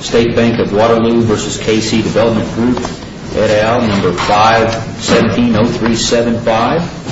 State Bank of Waterloo v. K.C. Development Group, et al., No. 5-170375.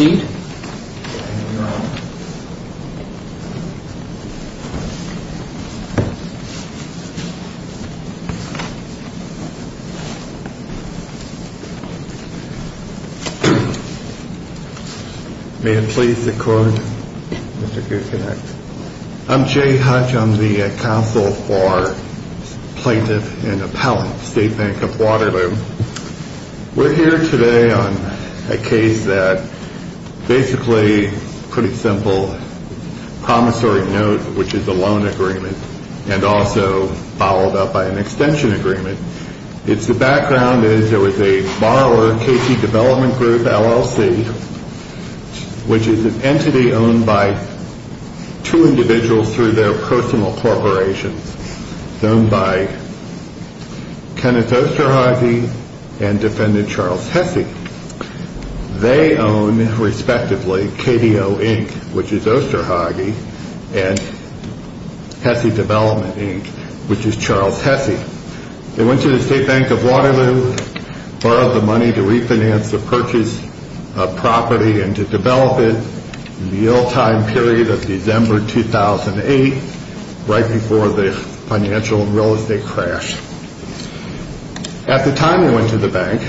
May it please the Court, Mr. Kucinich. I'm Jay Hutch. I'm the counsel for Plaintiff and Appellant, State Bank of Waterloo. We're here today on a case that's basically a pretty simple promissory note, which is a loan agreement, and also followed up by an extension agreement. The background is there was a borrower, K.C. Development Group, LLC, which is an entity owned by two individuals through their personal corporations, owned by Kenneth Osterhage and defendant Charles Hesse. They own, respectively, KDO, Inc., which is Osterhage, and Hesse Development, Inc., which is Charles Hesse. They went to the State Bank of Waterloo, borrowed the money to refinance the purchased property and to develop it in the yield time period of December 2008, right before the financial and real estate crash. At the time they went to the bank,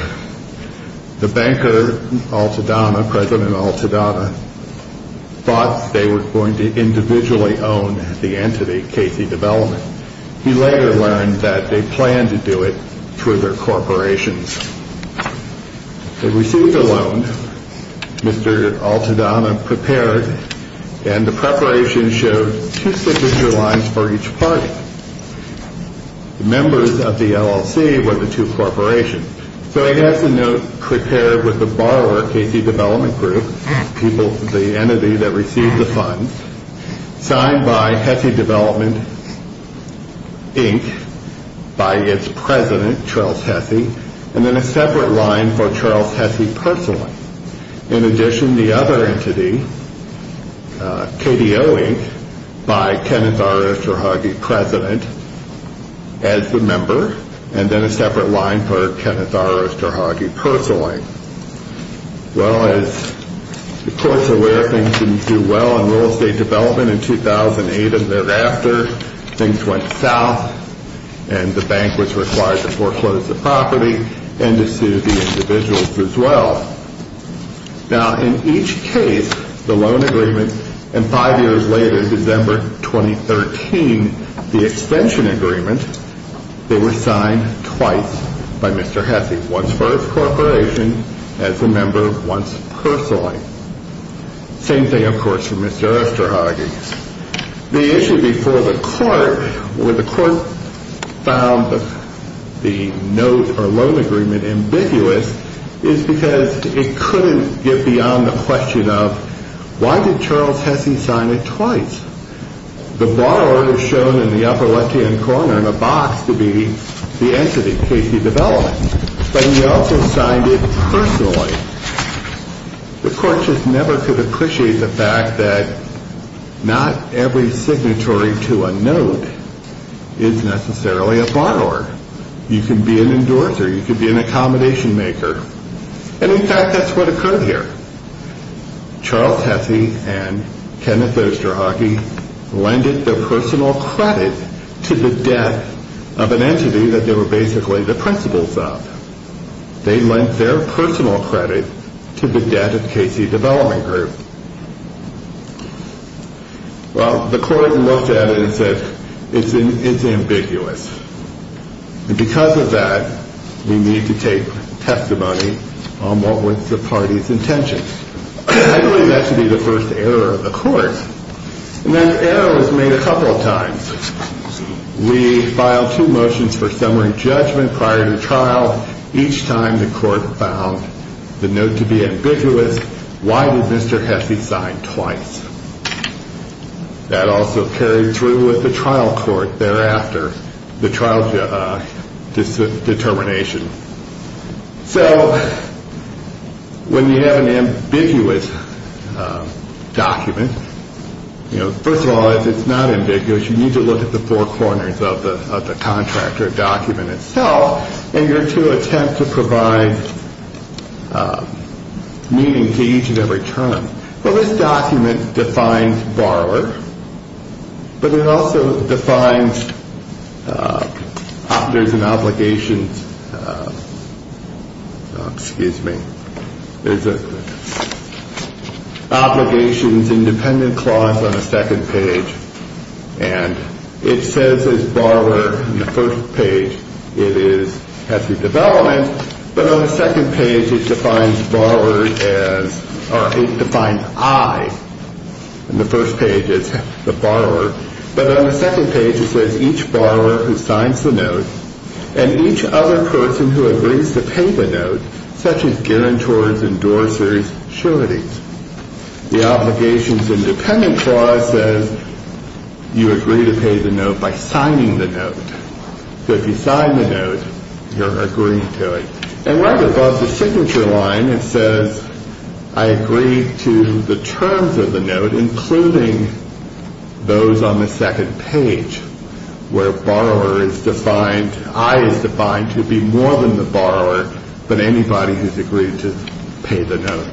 the banker, Altadonna, President Altadonna, thought they were going to individually own the entity, K.C. Development. He later learned that they planned to do it through their corporations. They received a loan, Mr. Altadonna prepared, and the preparation showed two signature lines for each party. The members of the LLC were the two corporations. So it has the note prepared with the borrower, K.C. Development Group, the entity that received the funds, signed by Hesse Development, Inc., by its president, Charles Hesse, and then a separate line for Charles Hesse personally. In addition, the other entity, KDO, Inc., by Kenneth Osterhage, President, as the member, and then a separate line for Kenneth Osterhage personally. Well, as the courts are aware, things didn't do well in real estate development in 2008, and thereafter, things went south, and the bank was required to foreclose the property and to sue the individuals as well. Now, in each case, the loan agreement, and five years later, December 2013, the extension agreement, they were signed twice by Mr. Hesse, once for his corporation, as the member, once personally. Same thing, of course, for Mr. Osterhage. The issue before the court, where the court found the note or loan agreement ambiguous, is because it couldn't get beyond the question of, why did Charles Hesse sign it twice? The borrower is shown in the upper left-hand corner in a box to be the entity, KD Development, but he also signed it personally. The court just never could appreciate the fact that not every signatory to a note is necessarily a borrower. You can be an endorser, you can be an accommodation maker, and in fact, that's what occurred here. Charles Hesse and Kenneth Osterhage lended their personal credit to the debt of an entity that they were basically the principals of. They lent their personal credit to the debt of KD Development Group. Well, the court looked at it and said, it's ambiguous, and because of that, we need to take testimony on what was the party's intention. I believe that to be the first error of the court, and that error was made a couple of times. We filed two motions for summary judgment prior to trial. Each time, the court found the note to be ambiguous. Why did Mr. Hesse sign twice? That also carried through with the trial court thereafter, the trial determination. So, when you have an ambiguous document, you know, first of all, if it's not ambiguous, you need to look at the four corners of the contract or document itself, and you're to attempt to provide meaning to each and every term. Well, this document defines borrower, but it also defines, there's an obligations, excuse me, there's an obligations independent clause on the second page, and it says as borrower in the first page, it is Hesse Development, but on the second page, it defines borrower as, or it defines I in the first page as the borrower, but on the second page, it says each borrower who signs the note and each other person who agrees to pay the note, such as guarantors, endorsers, sureties. The obligations independent clause says you agree to pay the note by signing the note. So, if you sign the note, you're agreed to it. And right above the signature line, it says I agree to the terms of the note, including those on the second page, where borrower is defined, I is defined to be more than the borrower, but anybody who's agreed to pay the note.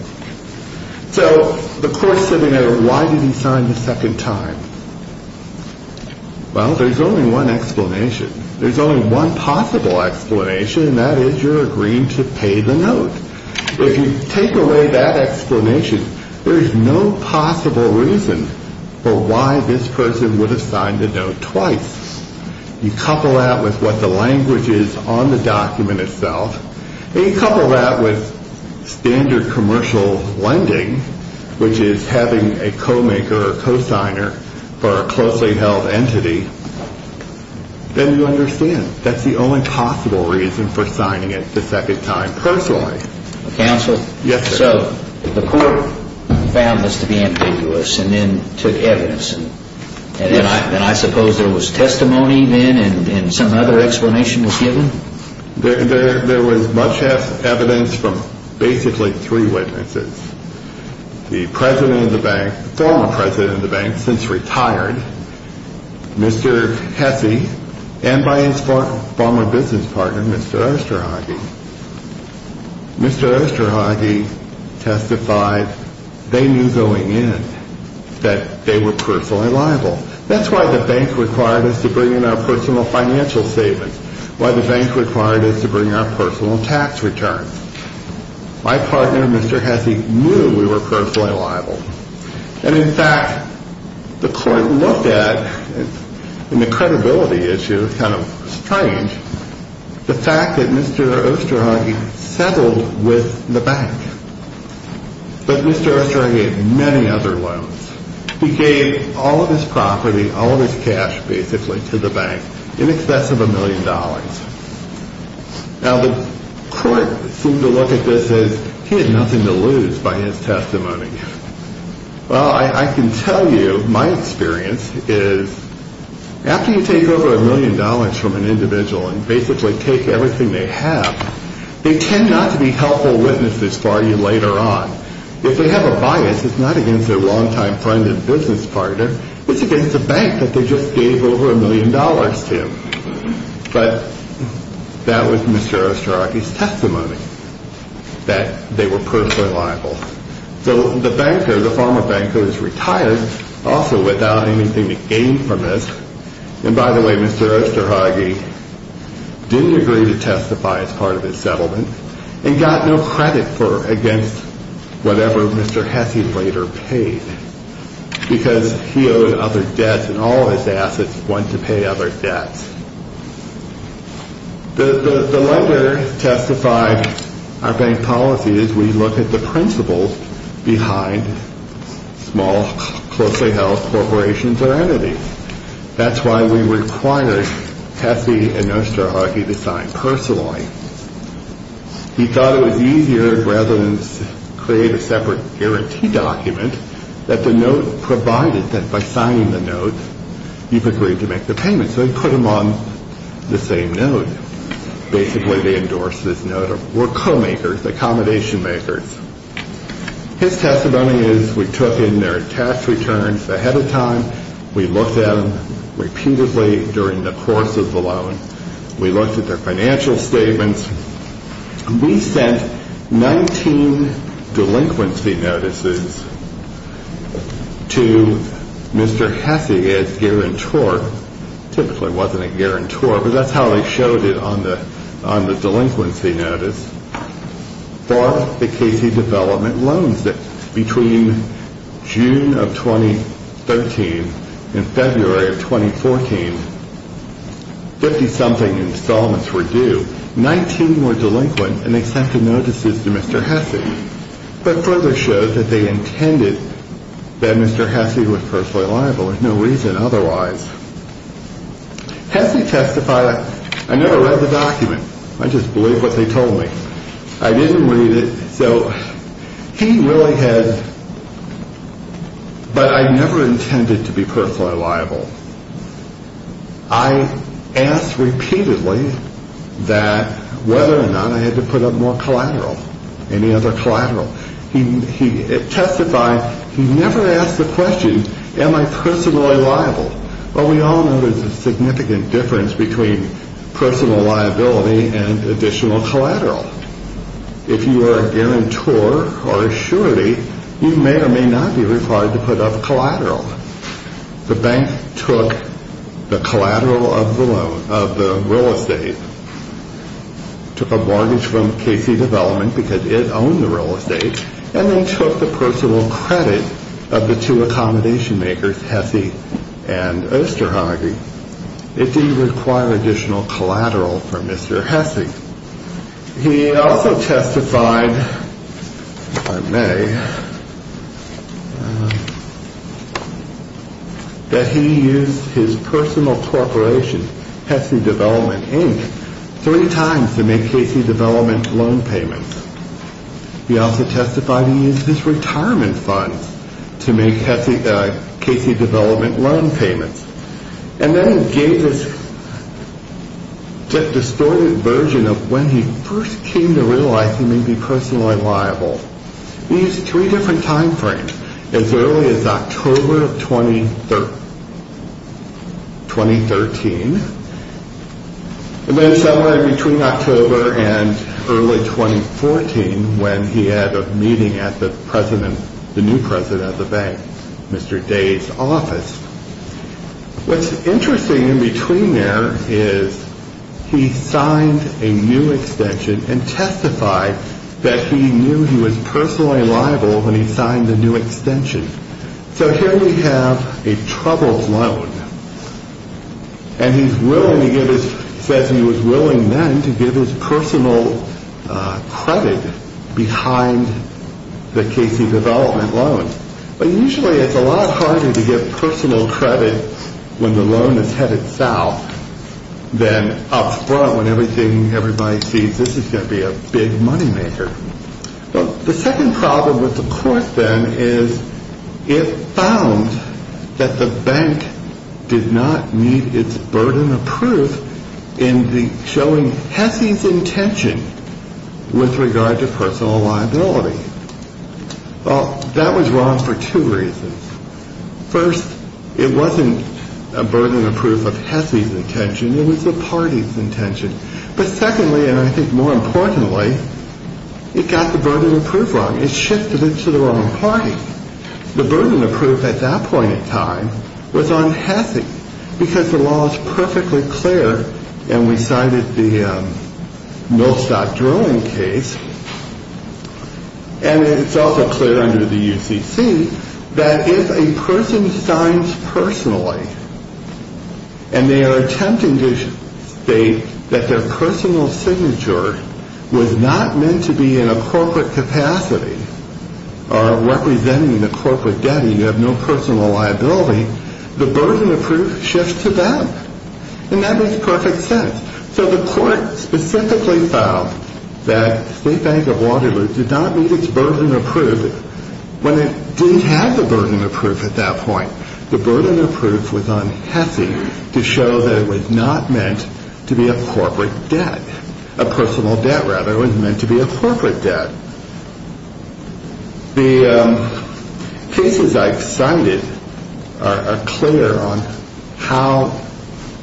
So, the court said, you know, why did he sign the second time? Well, there's only one explanation. There's only one possible explanation, and that is you're there is no possible reason for why this person would have signed the note twice. You couple that with what the language is on the document itself, and you couple that with standard commercial lending, which is having a co-maker or co-signer for a closely held entity, then you understand that's the only possible reason for signing it the second time personally. Counsel? Yes, sir. So, the court found this to be ambiguous, and then took evidence, and I suppose there was testimony then, and some other explanation was given? There was much less evidence from basically three witnesses. The president of the bank, former president of the bank, since retired, Mr. Hesse, and by his former business partner, Mr. Osterhage. Mr. Osterhage testified they knew going in that they were personally liable. That's why the bank required us to bring in our personal financial savings, why the bank required us to bring our personal tax returns. My partner, Mr. Hesse, knew we were personally liable, and in fact, the court looked at, in the credibility issue, kind of strange, the fact that Mr. Osterhage settled with the bank, but Mr. Osterhage had many other loans. He gave all of his property, all of his cash, basically, to the bank in excess of a million dollars. Now, the court seemed to look at this as he had nothing to lose by his testimony. Well, I can tell you, my experience is, after you take over a million dollars from an individual and basically take everything they have, they tend not to be helpful witnesses for you later on. If they have a bias, it's not against their longtime friend and business partner, it's against a bank that they just gave over a million dollars to. But that was Mr. Osterhage's testimony, that they were personally liable. So the banker, the former banker, is retired, also without anything to gain from this. And by the way, Mr. Osterhage didn't agree to testify as part of his settlement, and got no credit for against whatever Mr. Hesse later paid, because he owed other debts, and all of his assets went to pay other debts. The lender testified, our bank policy is we look at the principles behind small, closely held corporations or entities. That's why we required Hesse and Mr. Osterhage to sign personally. He thought it was easier, rather than create a separate guarantee document, that the note the same note. Basically, they endorsed this note. We're co-makers, accommodation makers. His testimony is we took in their tax returns ahead of time. We looked at them repeatedly during the course of the loan. We looked at their financial statements. We sent 19 delinquency notices to Mr. Hesse as guarantor. Typically, it wasn't a guarantor, but that's how they showed it on the delinquency notice for the Casey Development loans. Between June of 2013 and February of 2014, 50-something installments were due. 19 were delinquent, and they sent the notices to Mr. Hesse, but further showed that they intended that Mr. Hesse was personally liable. There's no reason otherwise. Hesse testified, I never read the document. I just believe what they told me. I didn't read it, so he really has, but I never intended to be personally liable. I asked repeatedly that whether or not I had to put up more collateral, any other collateral. He testified, he never asked the question, am I personally liable? Well, we all know there's a significant difference between personal liability and additional collateral. If you are a guarantor or a surety, you may or may not be required to put up collateral. The bank took the collateral of the loan, of the real estate, took a mortgage from Casey Development because it owned the real estate, and then took the personal credit of the two accommodation makers, Hesse and Osterhage. It didn't require additional collateral from Mr. Hesse. He also testified, if I may, that he used his personal corporation, Hesse Development Inc., three times to make Casey Development loan payments. He also testified he used his retirement funds to make Casey Development loan payments. And then he gave his distorted version of when he first came to realize he may be personally liable. He used three different time frames, as early as October of 2013, and then somewhere between October and early 2014, when he had a meeting at the president, Mr. Day's office. What's interesting in between there is he signed a new extension and testified that he knew he was personally liable when he signed the new extension. So here we have a troubled loan, and he says he was willing then to give his personal credit behind the Casey Development loan. But usually it's a lot harder to give personal credit when the loan is headed south than up front when everybody sees this is going to be a big money maker. The second problem with the court then is it found that the bank did not meet its burden of proof in showing Hesse's intention with regard to personal liability. Well, that was wrong for two reasons. First, it wasn't a burden of proof of Hesse's intention, it was the party's intention. But secondly, and I think more importantly, it got the burden of proof wrong. It shifted it to the wrong party. The burden of proof at that point in time was on Hesse because the law is perfectly clear, and we cited the Millstock drilling case, and it's also clear under the UCC that if a person signs personally and they are attempting to state that their personal signature was not meant to be in a corporate capacity or representing the bank, the burden of proof shifts to them. And that makes perfect sense. So the court specifically found that State Bank of Waterloo did not meet its burden of proof when it didn't have the burden of proof at that point. The burden of proof was on Hesse to show that it was not meant to be a corporate debt, a personal debt rather. It was meant to be a corporate debt. The cases I cited are clear on how,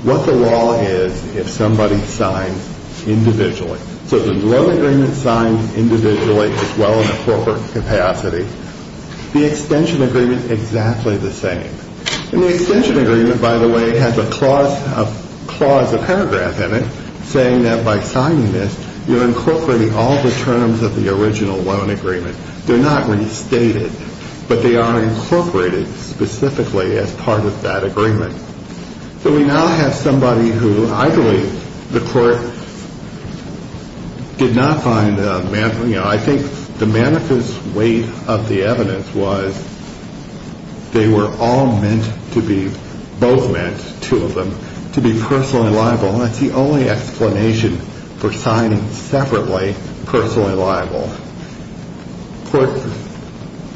what the law is if somebody signs individually. So the loan agreement signed individually is well in a corporate capacity. The extension agreement is exactly the same. And the extension agreement, by the way, has a clause, a paragraph in it saying that by terms of the original loan agreement, they're not restated, but they are incorporated specifically as part of that agreement. So we now have somebody who I believe the court did not find, you know, I think the manifest weight of the evidence was they were all meant to be, both meant, two of them, to be personally liable. That's the only explanation for signing separately personally liable. Court,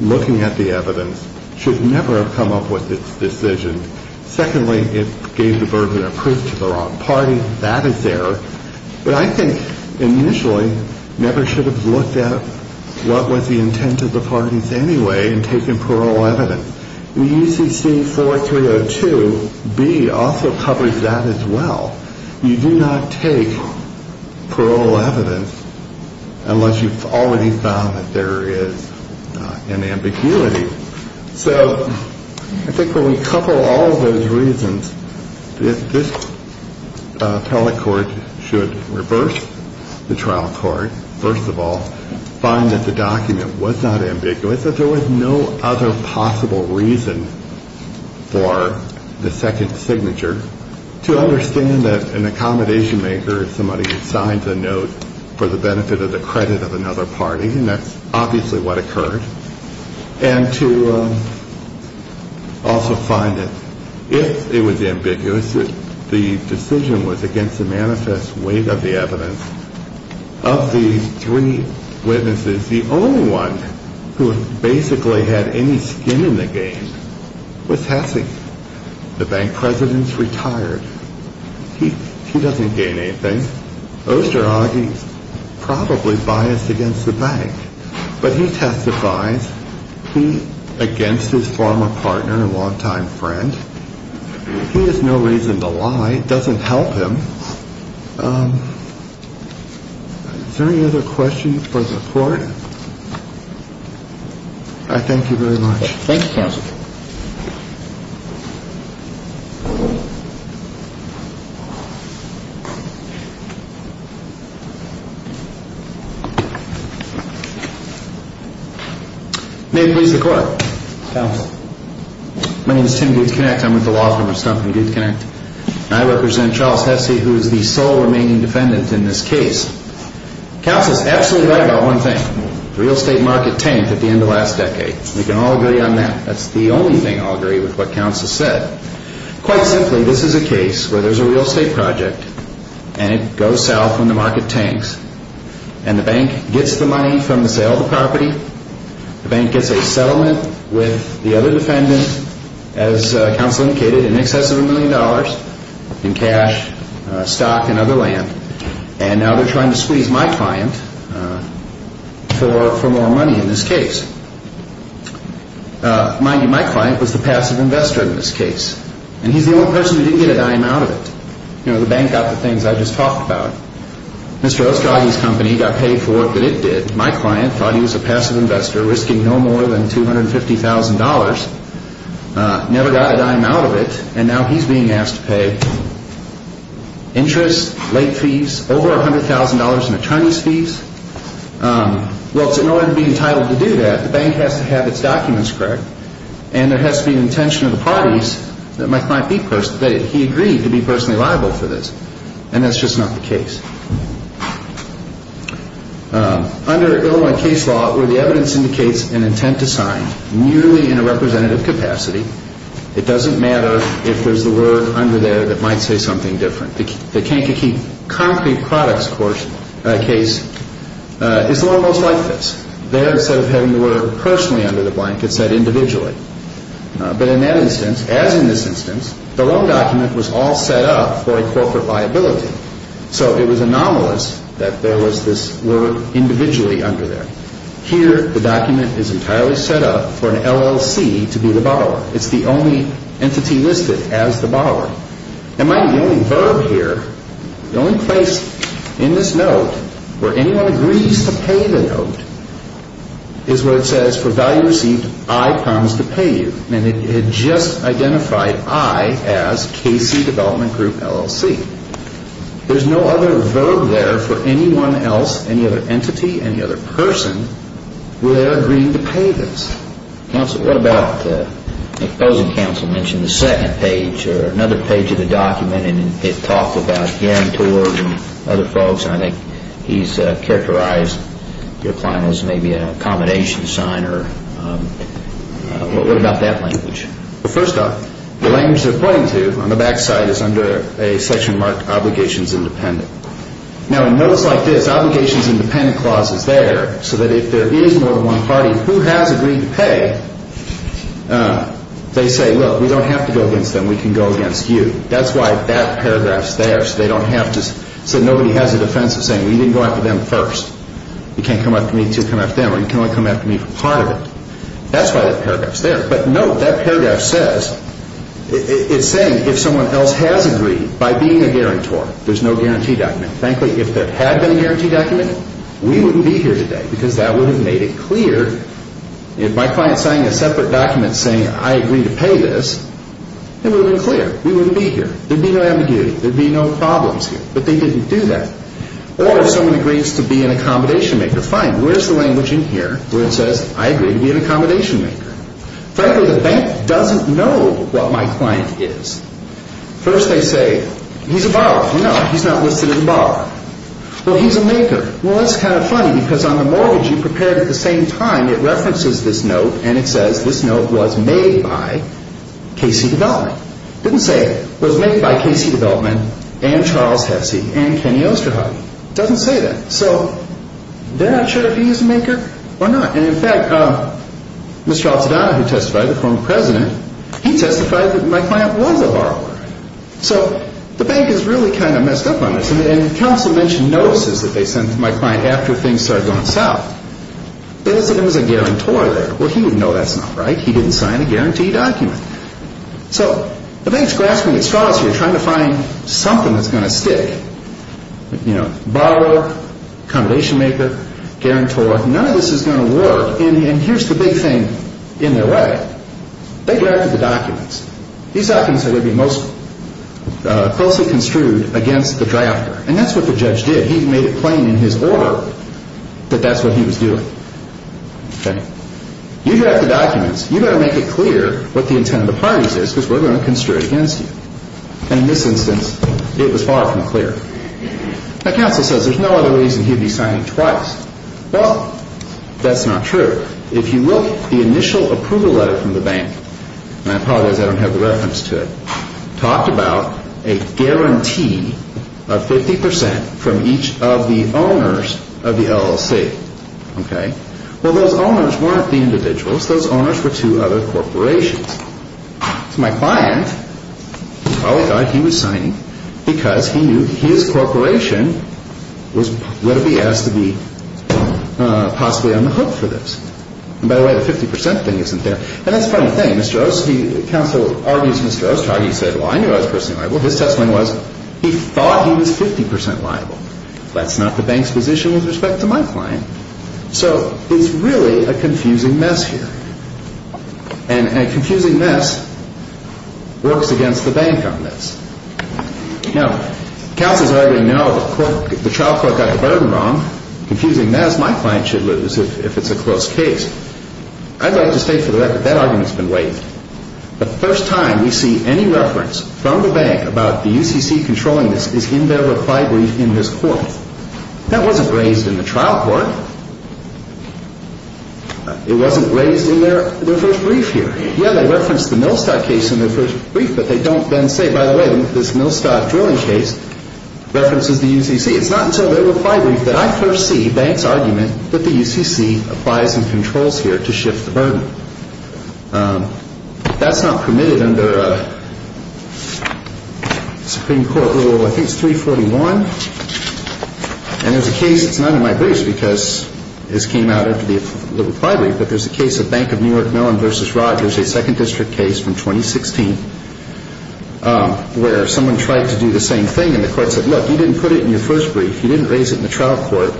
looking at the evidence, should never have come up with its decision. Secondly, it gave the burden of proof to the wrong party. That is there. But I think initially never should have looked at what was the intent of the parties anyway in taking parole evidence. In UCC 4302, B also covers that as well. You do not take parole evidence unless you've already found that there is an ambiguity. So I think when we couple all those reasons, this appellate court should reverse the trial court, first of all, find that the document was not ambiguous, that there was no other possible reason for the second signature, to understand that an accommodation maker is somebody who signs a note for the benefit of the credit of another party. And that's obviously what occurred. And to also find that if it was ambiguous, the decision was against the manifest weight of the evidence. Of these three witnesses, the only one who basically had any skin in the game was Hesse. The bank president's retired. He doesn't gain anything. Osterhage is probably biased against the bank, but he testifies against his former partner and the bank. And he's not the only one who's biased against the bank. Is there any other questions for the court? I thank you very much. Thank you, counsel. May it please the court. My name is Tim Dukes-Kennect. I'm with the Laws Members' Company, and I represent Charles Hesse, who is the sole remaining defendant in this case. Counsel is absolutely right about one thing. The real estate market tanked at the end of the last decade. We can all agree on that. That's the only thing I'll agree with what counsel said. Quite simply, this is a case where there's a real estate project, and it goes south when the market tanks. And the bank gets the money from the sale of the property. The bank gets a settlement with the other defendant, as counsel indicated, in excess of a million dollars in cash, stock, and other land. And now they're trying to squeeze my client for more money in this case. Mind you, my client was the passive investor in this case. And he's the only person who didn't get a dime out of it. You know, the bank got the things I just talked about. Mr. Osterhage's company got paid for what it did. My client thought he was a passive investor, risking no dollars, never got a dime out of it. And now he's being asked to pay interest, late fees, over $100,000 in attorney's fees. Well, in order to be entitled to do that, the bank has to have its documents correct. And there has to be an intention of the parties that my client agreed to be personally liable for this. And that's just not the case. Under Illinois case law, where the representative capacity, it doesn't matter if there's the word under there that might say something different. The Kankakee Concrete Products case is almost like this. There, instead of having the word personally under the blank, it's said individually. But in that instance, as in this instance, the loan document was all set up for a corporate liability. So it was anomalous that there was this word individually under there. Here, the document is entirely set up for an LLC to be the borrower. It's the only entity listed as the borrower. And my only verb here, the only place in this note where anyone agrees to pay the note is where it says, for value received, I promise to pay you. And it just identified I as KC Development Group LLC. There's no other verb there for anyone else, any other entity, any other person, where they're agreeing to pay this. Counsel, what about, I suppose the counsel mentioned the second page or another page of the document, and it talks about guarantors and other folks. And I think he's characterized your client as maybe an accommodation signer. What about that language? Well, first off, the language they're pointing to on the back side is under a section marked Obligations Independent. Now, in notes like this, Obligations Independent clause is there so that if there is more than one party who has agreed to pay, they say, look, we don't have to go against them. We can go against you. That's why that paragraph's there so they don't have to, so nobody has a defense of saying, well, you didn't go after them first. You can't come after me to come after them, or you can only come after me for part of it. That's why that paragraph's there. But that paragraph says, it's saying if someone else has agreed by being a guarantor, there's no guarantee document. Frankly, if there had been a guarantee document, we wouldn't be here today because that would have made it clear. If my client's signing a separate document saying I agree to pay this, it would have been clear. We wouldn't be here. There'd be no ambiguity. There'd be no problems here. But they didn't do that. Or if someone agrees to be an accommodation maker, fine, where's the language in here where it says, I agree to be an accommodation maker? Frankly, the bank doesn't know what my client is. First they say, he's a borrower. No, he's not listed as a borrower. Well, he's a maker. Well, that's kind of funny because on the mortgage you prepared at the same time, it references this note and it says this note was made by KC Development. It didn't say it was made by KC Development and Charles Hesse and Kenny Osterhout. It doesn't say that. So they're not sure if he is a maker or not. And in fact, Mr. Alcidano who testified, the former president, he testified that my client was a borrower. So the bank has really kind of messed up on this. And counsel mentioned notices that they sent to my client after things started going south. It is that it was a guarantor there. Well, he would know that's not right. He didn't sign a guarantee document. So the bank's grasping at straws here, trying to find something that's going to stick. You know, borrower, accommodation maker, guarantor, none of this is going to work. And here's the big thing in their way. They drafted the documents. These documents are going to be most closely construed against the drafter. And that's what the judge did. He made it plain in his order that that's what he was doing. Okay. You draft the documents. You've got to make it clear what the intent of the parties is because we're going to construe it against you. And in this instance, it was far from clear. Now, counsel says there's no other reason he'd be signing twice. Well, that's not true. If you look at the initial approval letter from the bank, and I apologize I don't have the reference to it, talked about a guarantee of 50 percent from each of the owners of the LLC. Okay. Well, those owners weren't the individuals. Those owners were two other corporations. So my client probably thought he was signing because he knew his corporation was going to be asked to be possibly on the hook for this. And by the way, the 50 percent thing isn't there. And that's a funny thing. Counsel argues Mr. Ostargi said, well, I knew I was personally liable. His testimony was he thought he was 50 percent liable. That's not the bank's position with respect to my client. So it's really a confusing mess here. And a confusing mess works against the bank on this. Now, counsels already know the trial court got the burden wrong. Confusing mess my client should lose if it's a close case. I'd like to state for the record that argument's been waived. The first time we see any reference from the bank about the UCC controlling this is in their reply brief in this court. That wasn't raised in the trial court. It wasn't raised in their first brief here. Yeah, they referenced the Millstock case in their first brief, but they don't then say, by the way, this Millstock drilling case references the UCC. It's not until their reply brief that I first see bank's argument that the UCC applies some controls here to shift the burden. That's not permitted under a Supreme Court rule. I think it's 341. And there's a case that's not in my briefs because this came out after the reply brief, but there's a case of Bank of New York Mellon v. Rogers, a second district case from 2016, where someone tried to do the same thing and the court said, look, you didn't put it in your first brief. You didn't raise it in the trial court.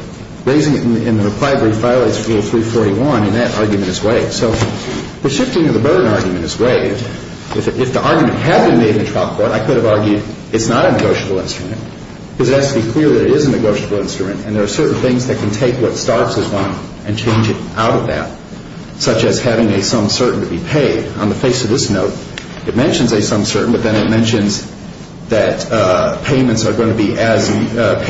Raising it in the reply brief violates rule 341, and that argument is waived. So the shifting of the burden argument is waived. If the argument had been made in the trial court, I could have argued it's not a negotiable instrument because it has to be clear that it is a negotiable instrument, and there are certain things that can take what starts as one and change it out of that, such as having a sum certain to be paid. On the face of this note, it mentions a sum certain, but then it mentions that payments are going to be as needed,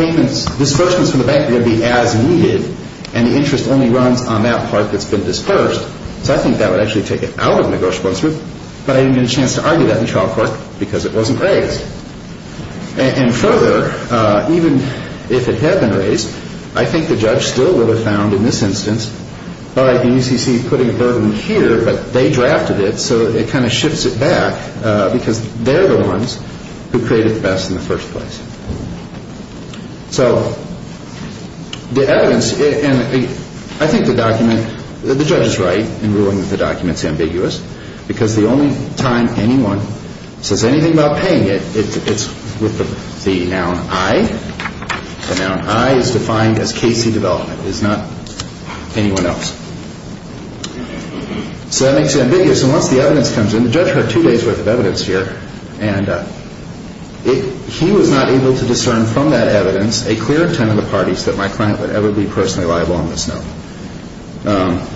and the interest only runs on that part that's been dispersed. So I think that would actually take it out of negotiable instrument, but I didn't get a chance to argue that in trial court because it wasn't raised. And further, even if it had been raised, I think the judge still would have found in this instance, all right, the UCC is putting a burden here, but they drafted it, so it kind of shifts it back because they're the ones who created the best in the first place. So the evidence, and I think the document, the judge is right in ruling that the document's ambiguous because the only time anyone says anything about paying it, it's with the noun I. The noun I is defined as Casey Development. It's not anyone else. So that makes it ambiguous, and once the evidence comes in, the judge heard two days' worth of evidence here, and he was not able to discern from that evidence a clear 10 of the parties that my client would ever be personally liable on this note.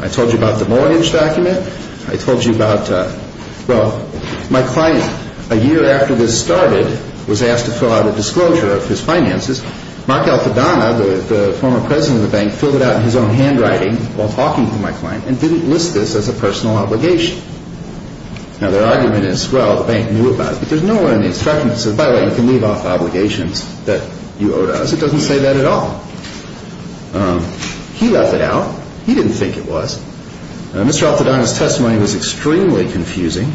I told you about the mortgage document. I told you about, well, my client, a year after this started, was asked to fill out a disclosure of his finances. Mark Alfadana, the former president of the bank, filled it out in his own handwriting while talking to my client and didn't list this as a personal obligation. Now, their argument is, well, the bank knew about it, but there's no one in the instruction that says, by the way, you can leave off obligations that you owe to us. It doesn't say that at all. He left it out. He didn't think it was. Mr. Alfadana's testimony was extremely confusing.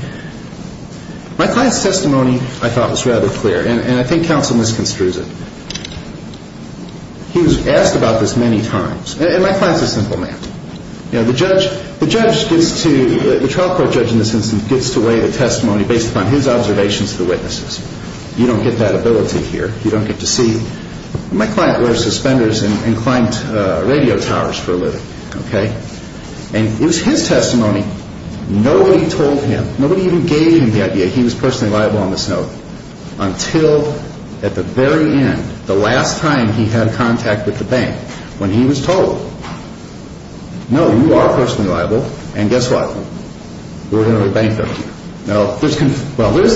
My client's testimony, I thought, was rather clear, and I think counsel misconstrues it. He was asked about this many times, and my client's a simple man. Now, the judge gets to, the trial court judge in this instance, gets to weigh the testimony based upon his observations to the witnesses. You don't get that ability here. You don't get to see. My client wears suspenders and climbed radio towers for a living, okay? And it was his testimony. Nobody told him. Nobody even gave him the idea he was personally liable on this note until at the very end, the last time he had contact with the bank, when he was told. No, you are personally liable, and guess what? We're going to rebank you. Well, there's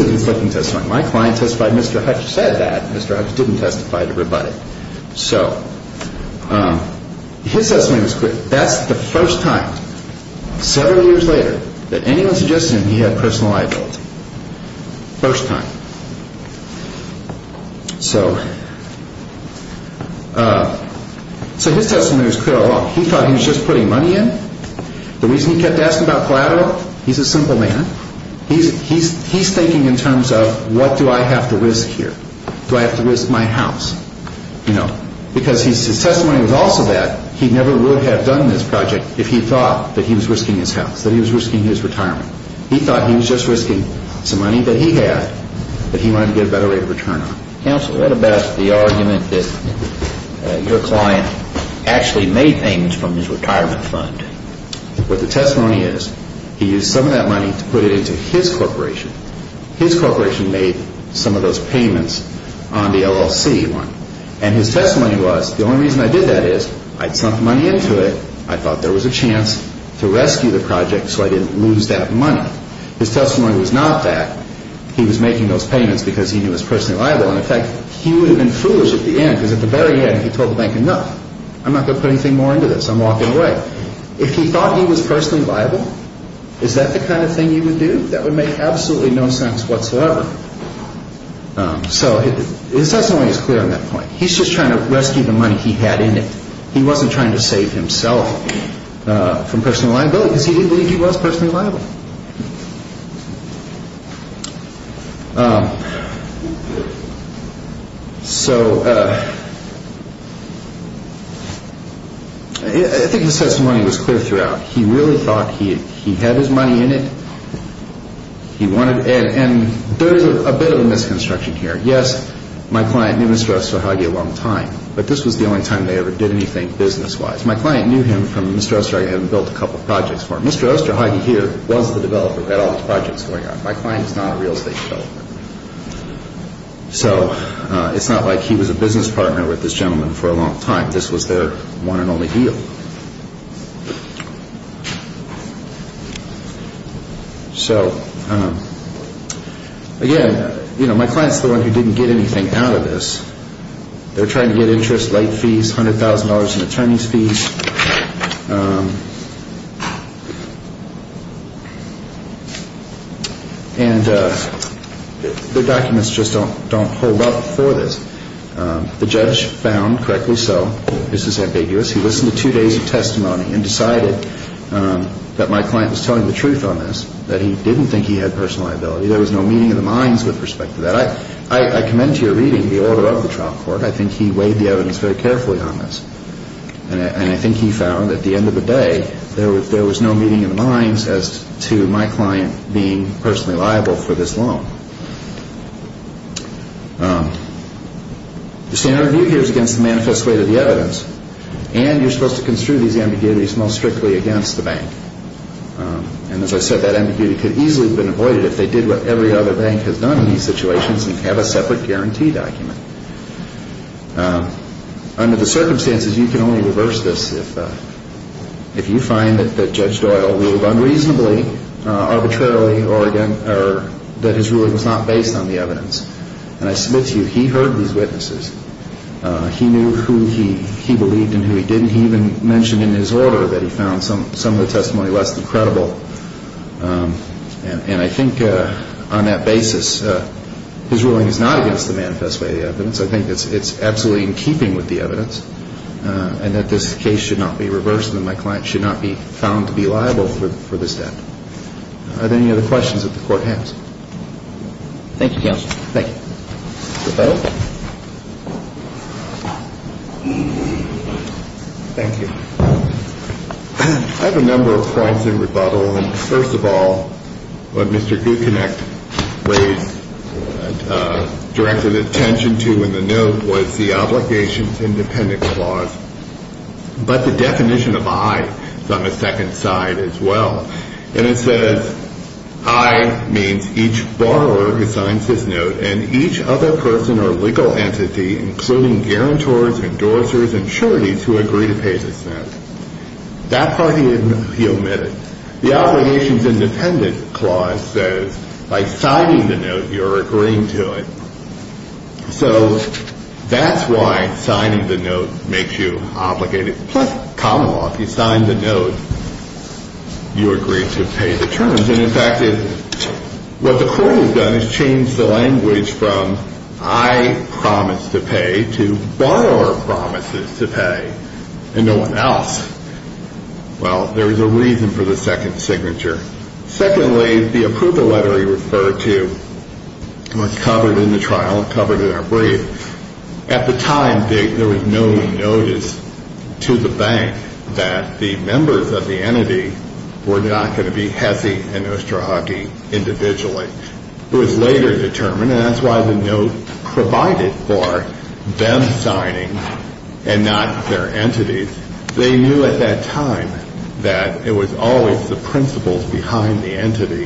a conflicting testimony. My client testified. Mr. Hutch said that. Mr. Hutch didn't testify to everybody. So his testimony was clear. That's the first time, several years later, that anyone suggested he had personal liability. First time. So his testimony was clear all along. He thought he was just putting money in. The reason he kept asking about collateral, he's a simple man. He's thinking in terms of, what do I have to risk here? Do I have to risk my house? You know, because his testimony was also that he never would have done this project if he thought that he was risking his house, that he was risking his retirement. He thought he was just risking some money that he had that he wanted to get a better rate of return on. Counsel, what about the argument that your client actually made payments from his retirement fund? What the testimony is, he used some of that money to put it into his corporation. His corporation made some of those payments on the LLC one. And his testimony was, the only reason I did that is, I'd sunk money into it. I thought there was a chance to rescue the project so I didn't lose that money. His testimony was not that. He was making those payments because he would have been foolish at the end because at the very end he told the bank, enough, I'm not going to put anything more into this. I'm walking away. If he thought he was personally liable, is that the kind of thing you would do? That would make absolutely no sense whatsoever. So his testimony is clear on that point. He's just trying to rescue the money he had in it. He wasn't trying to save himself from personal liability because he did believe he was personally liable. So I think the testimony was clear throughout. He really thought he had his money in it. And there's a bit of a misconstruction here. Yes, my client knew Mr. Osterhage a long time, but this was the only time they ever did anything business-wise. My client knew him from Mr. Osterhage had built a couple of projects for him. Mr. Osterhage here was the developer that all his projects were on. My client is not a real estate developer. So it's not like he was a business partner with this gentleman for a long time. This was their one and only deal. So again, my client is the one who didn't get anything out of this. They're trying to get interest, late fees, $100,000 in attorney's fees. And their documents just don't hold up for this. The judge found, correctly so, this is ambiguous. He listened to two days of testimony and decided that my client was telling the truth on this, that he didn't think he had personal liability. There was no meaning in the minds with respect to that. I commend to your reading the order of the trial court. I think he weighed the evidence very carefully on this. And I think he found at the end of the day there was no meaning in the minds as to my client being personally liable for this loan. The standard of view here is against the manifest way of the evidence. And you're supposed to construe these ambiguities most strictly against the bank. And as I said, that ambiguity could easily have been avoided if they did what every other bank has done in these situations and have a separate guarantee document. Under the circumstances, you can only reverse this if you find that Judge Doyle ruled unreasonably, arbitrarily, that his ruling was not based on the evidence. And I submit to you, he heard these witnesses. He knew who he believed and who he didn't. He even mentioned in his order that he found some of the testimony less than credible. And I think on that basis, his ruling is not against the and that this case should not be reversed and my client should not be found to be liable for this debt. Are there any other questions that the Court has? Thank you, Counselor. Thank you. Thank you. I have a number of points in rebuttal. First of all, what Mr. Gucinec raised and directed attention to in the note was the Obligations Independent Clause. But the definition of I is on the second side as well. And it says I means each borrower assigns his note and each other person or legal entity, including guarantors, endorsers, and charities who agree to pay this note. That part he omitted. The Obligations Independent Clause says by signing the note, you're agreeing to it. So that's why signing the note makes you obligated. Plus, common law, if you sign the note, you agree to pay the terms. And in fact, what the Court has done is change the language from I promise to pay to borrower promises to pay and no one else. Well, there's a reason for the second signature. Secondly, the approval letter he referred to was covered in the trial and covered in our brief. At the time, there was no notice to the bank that the members of the entity were not going to be HESI and OSTRAHUKI individually. It was later determined, and that's why the note provided for them signing and not their entities. They knew at that time that it was always the principles behind the entity,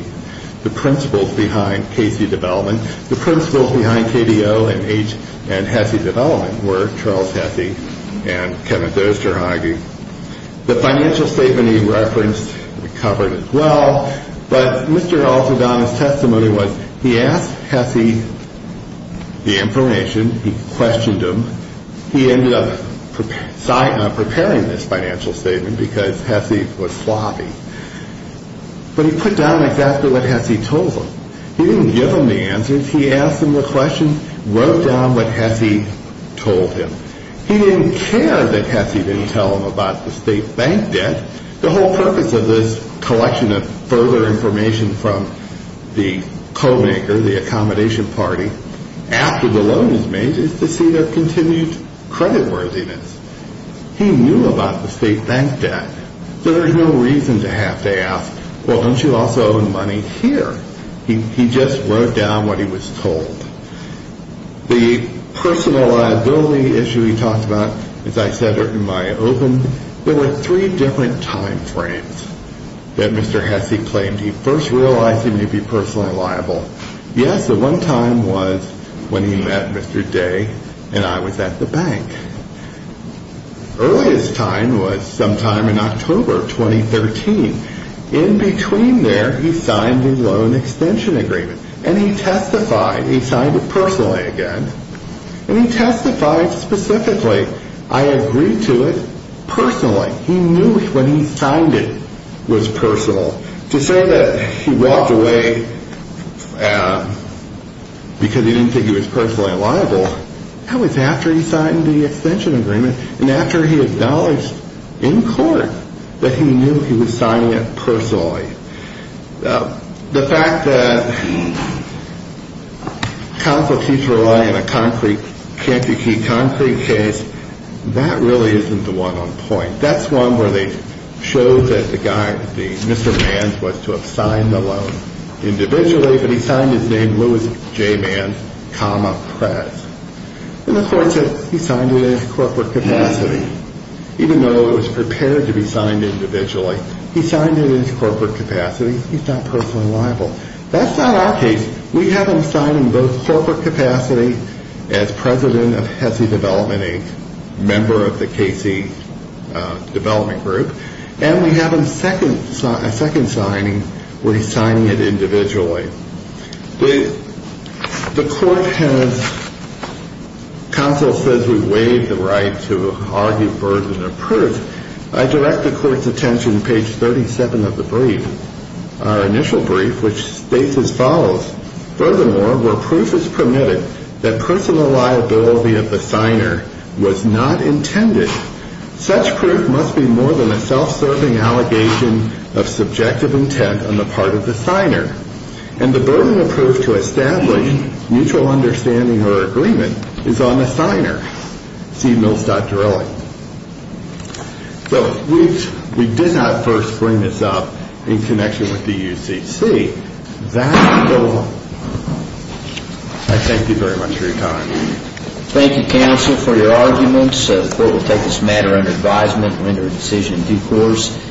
the principles behind Casey development, the principles behind KDO and H and HESI development were Charles HESI and Kevin OSTRAHUKI. The financial statement he referenced covered as well, but Mr. Altadonna's testimony was he asked HESI the information. He questioned him. He ended up preparing this financial statement because HESI was sloppy, but he put down exactly what HESI told him. He didn't give him the answers. He asked him the question, wrote down what HESI told him. He didn't care that HESI didn't tell him about the state bank debt. The whole purpose of this collection of further information from the co-maker, the accommodation party, after the loan is made is to see their continued credit worthiness. He knew about the state bank debt. There's no reason to have to ask, well, don't you also own money here? He just wrote down what he was told. The personal liability issue he talked about, as I said in my open, there were three different time frames that Mr. HESI claimed. He first realized he personally liable. Yes, the one time was when he met Mr. Day and I was at the bank. Earliest time was sometime in October 2013. In between there, he signed his loan extension agreement, and he testified. He signed it personally again, and he testified specifically. I agreed to it personally. He knew when he signed it was personal. To say that he walked away because he didn't think he was personally liable, that was after he signed the extension agreement and after he acknowledged in court that he knew he was signing it personally. The fact that counsel keeps relying on a concrete case, that really isn't the one on point. That's one where they show that the guy, Mr. Manns, was to have signed the loan individually, but he signed his name Louis J. Manns, press. And the court said he signed it in his corporate capacity. Even though it was prepared to be signed individually, he signed it in his corporate capacity. He's not liable. That's not our case. We have him signing both corporate capacity as president of HESI Development, a member of the KC Development Group, and we have him second signing where he's signing it individually. The court has, counsel says we waive the right to argue birds in a perch. I direct the court's attention to page 37 of the brief, our initial brief, which states as follows. Furthermore, where proof is permitted that personal liability of the signer was not intended, such proof must be more than a self-serving allegation of subjective intent on the part of the signer. And the burden of proof to establish mutual understanding or agreement is on the signer, see Mills.Dorelli. So we did not first bring this up in connection with the UCC. I thank you very much for your time. Thank you, counsel, for your arguments. The court will take this matter under advisement and render a decision in due course.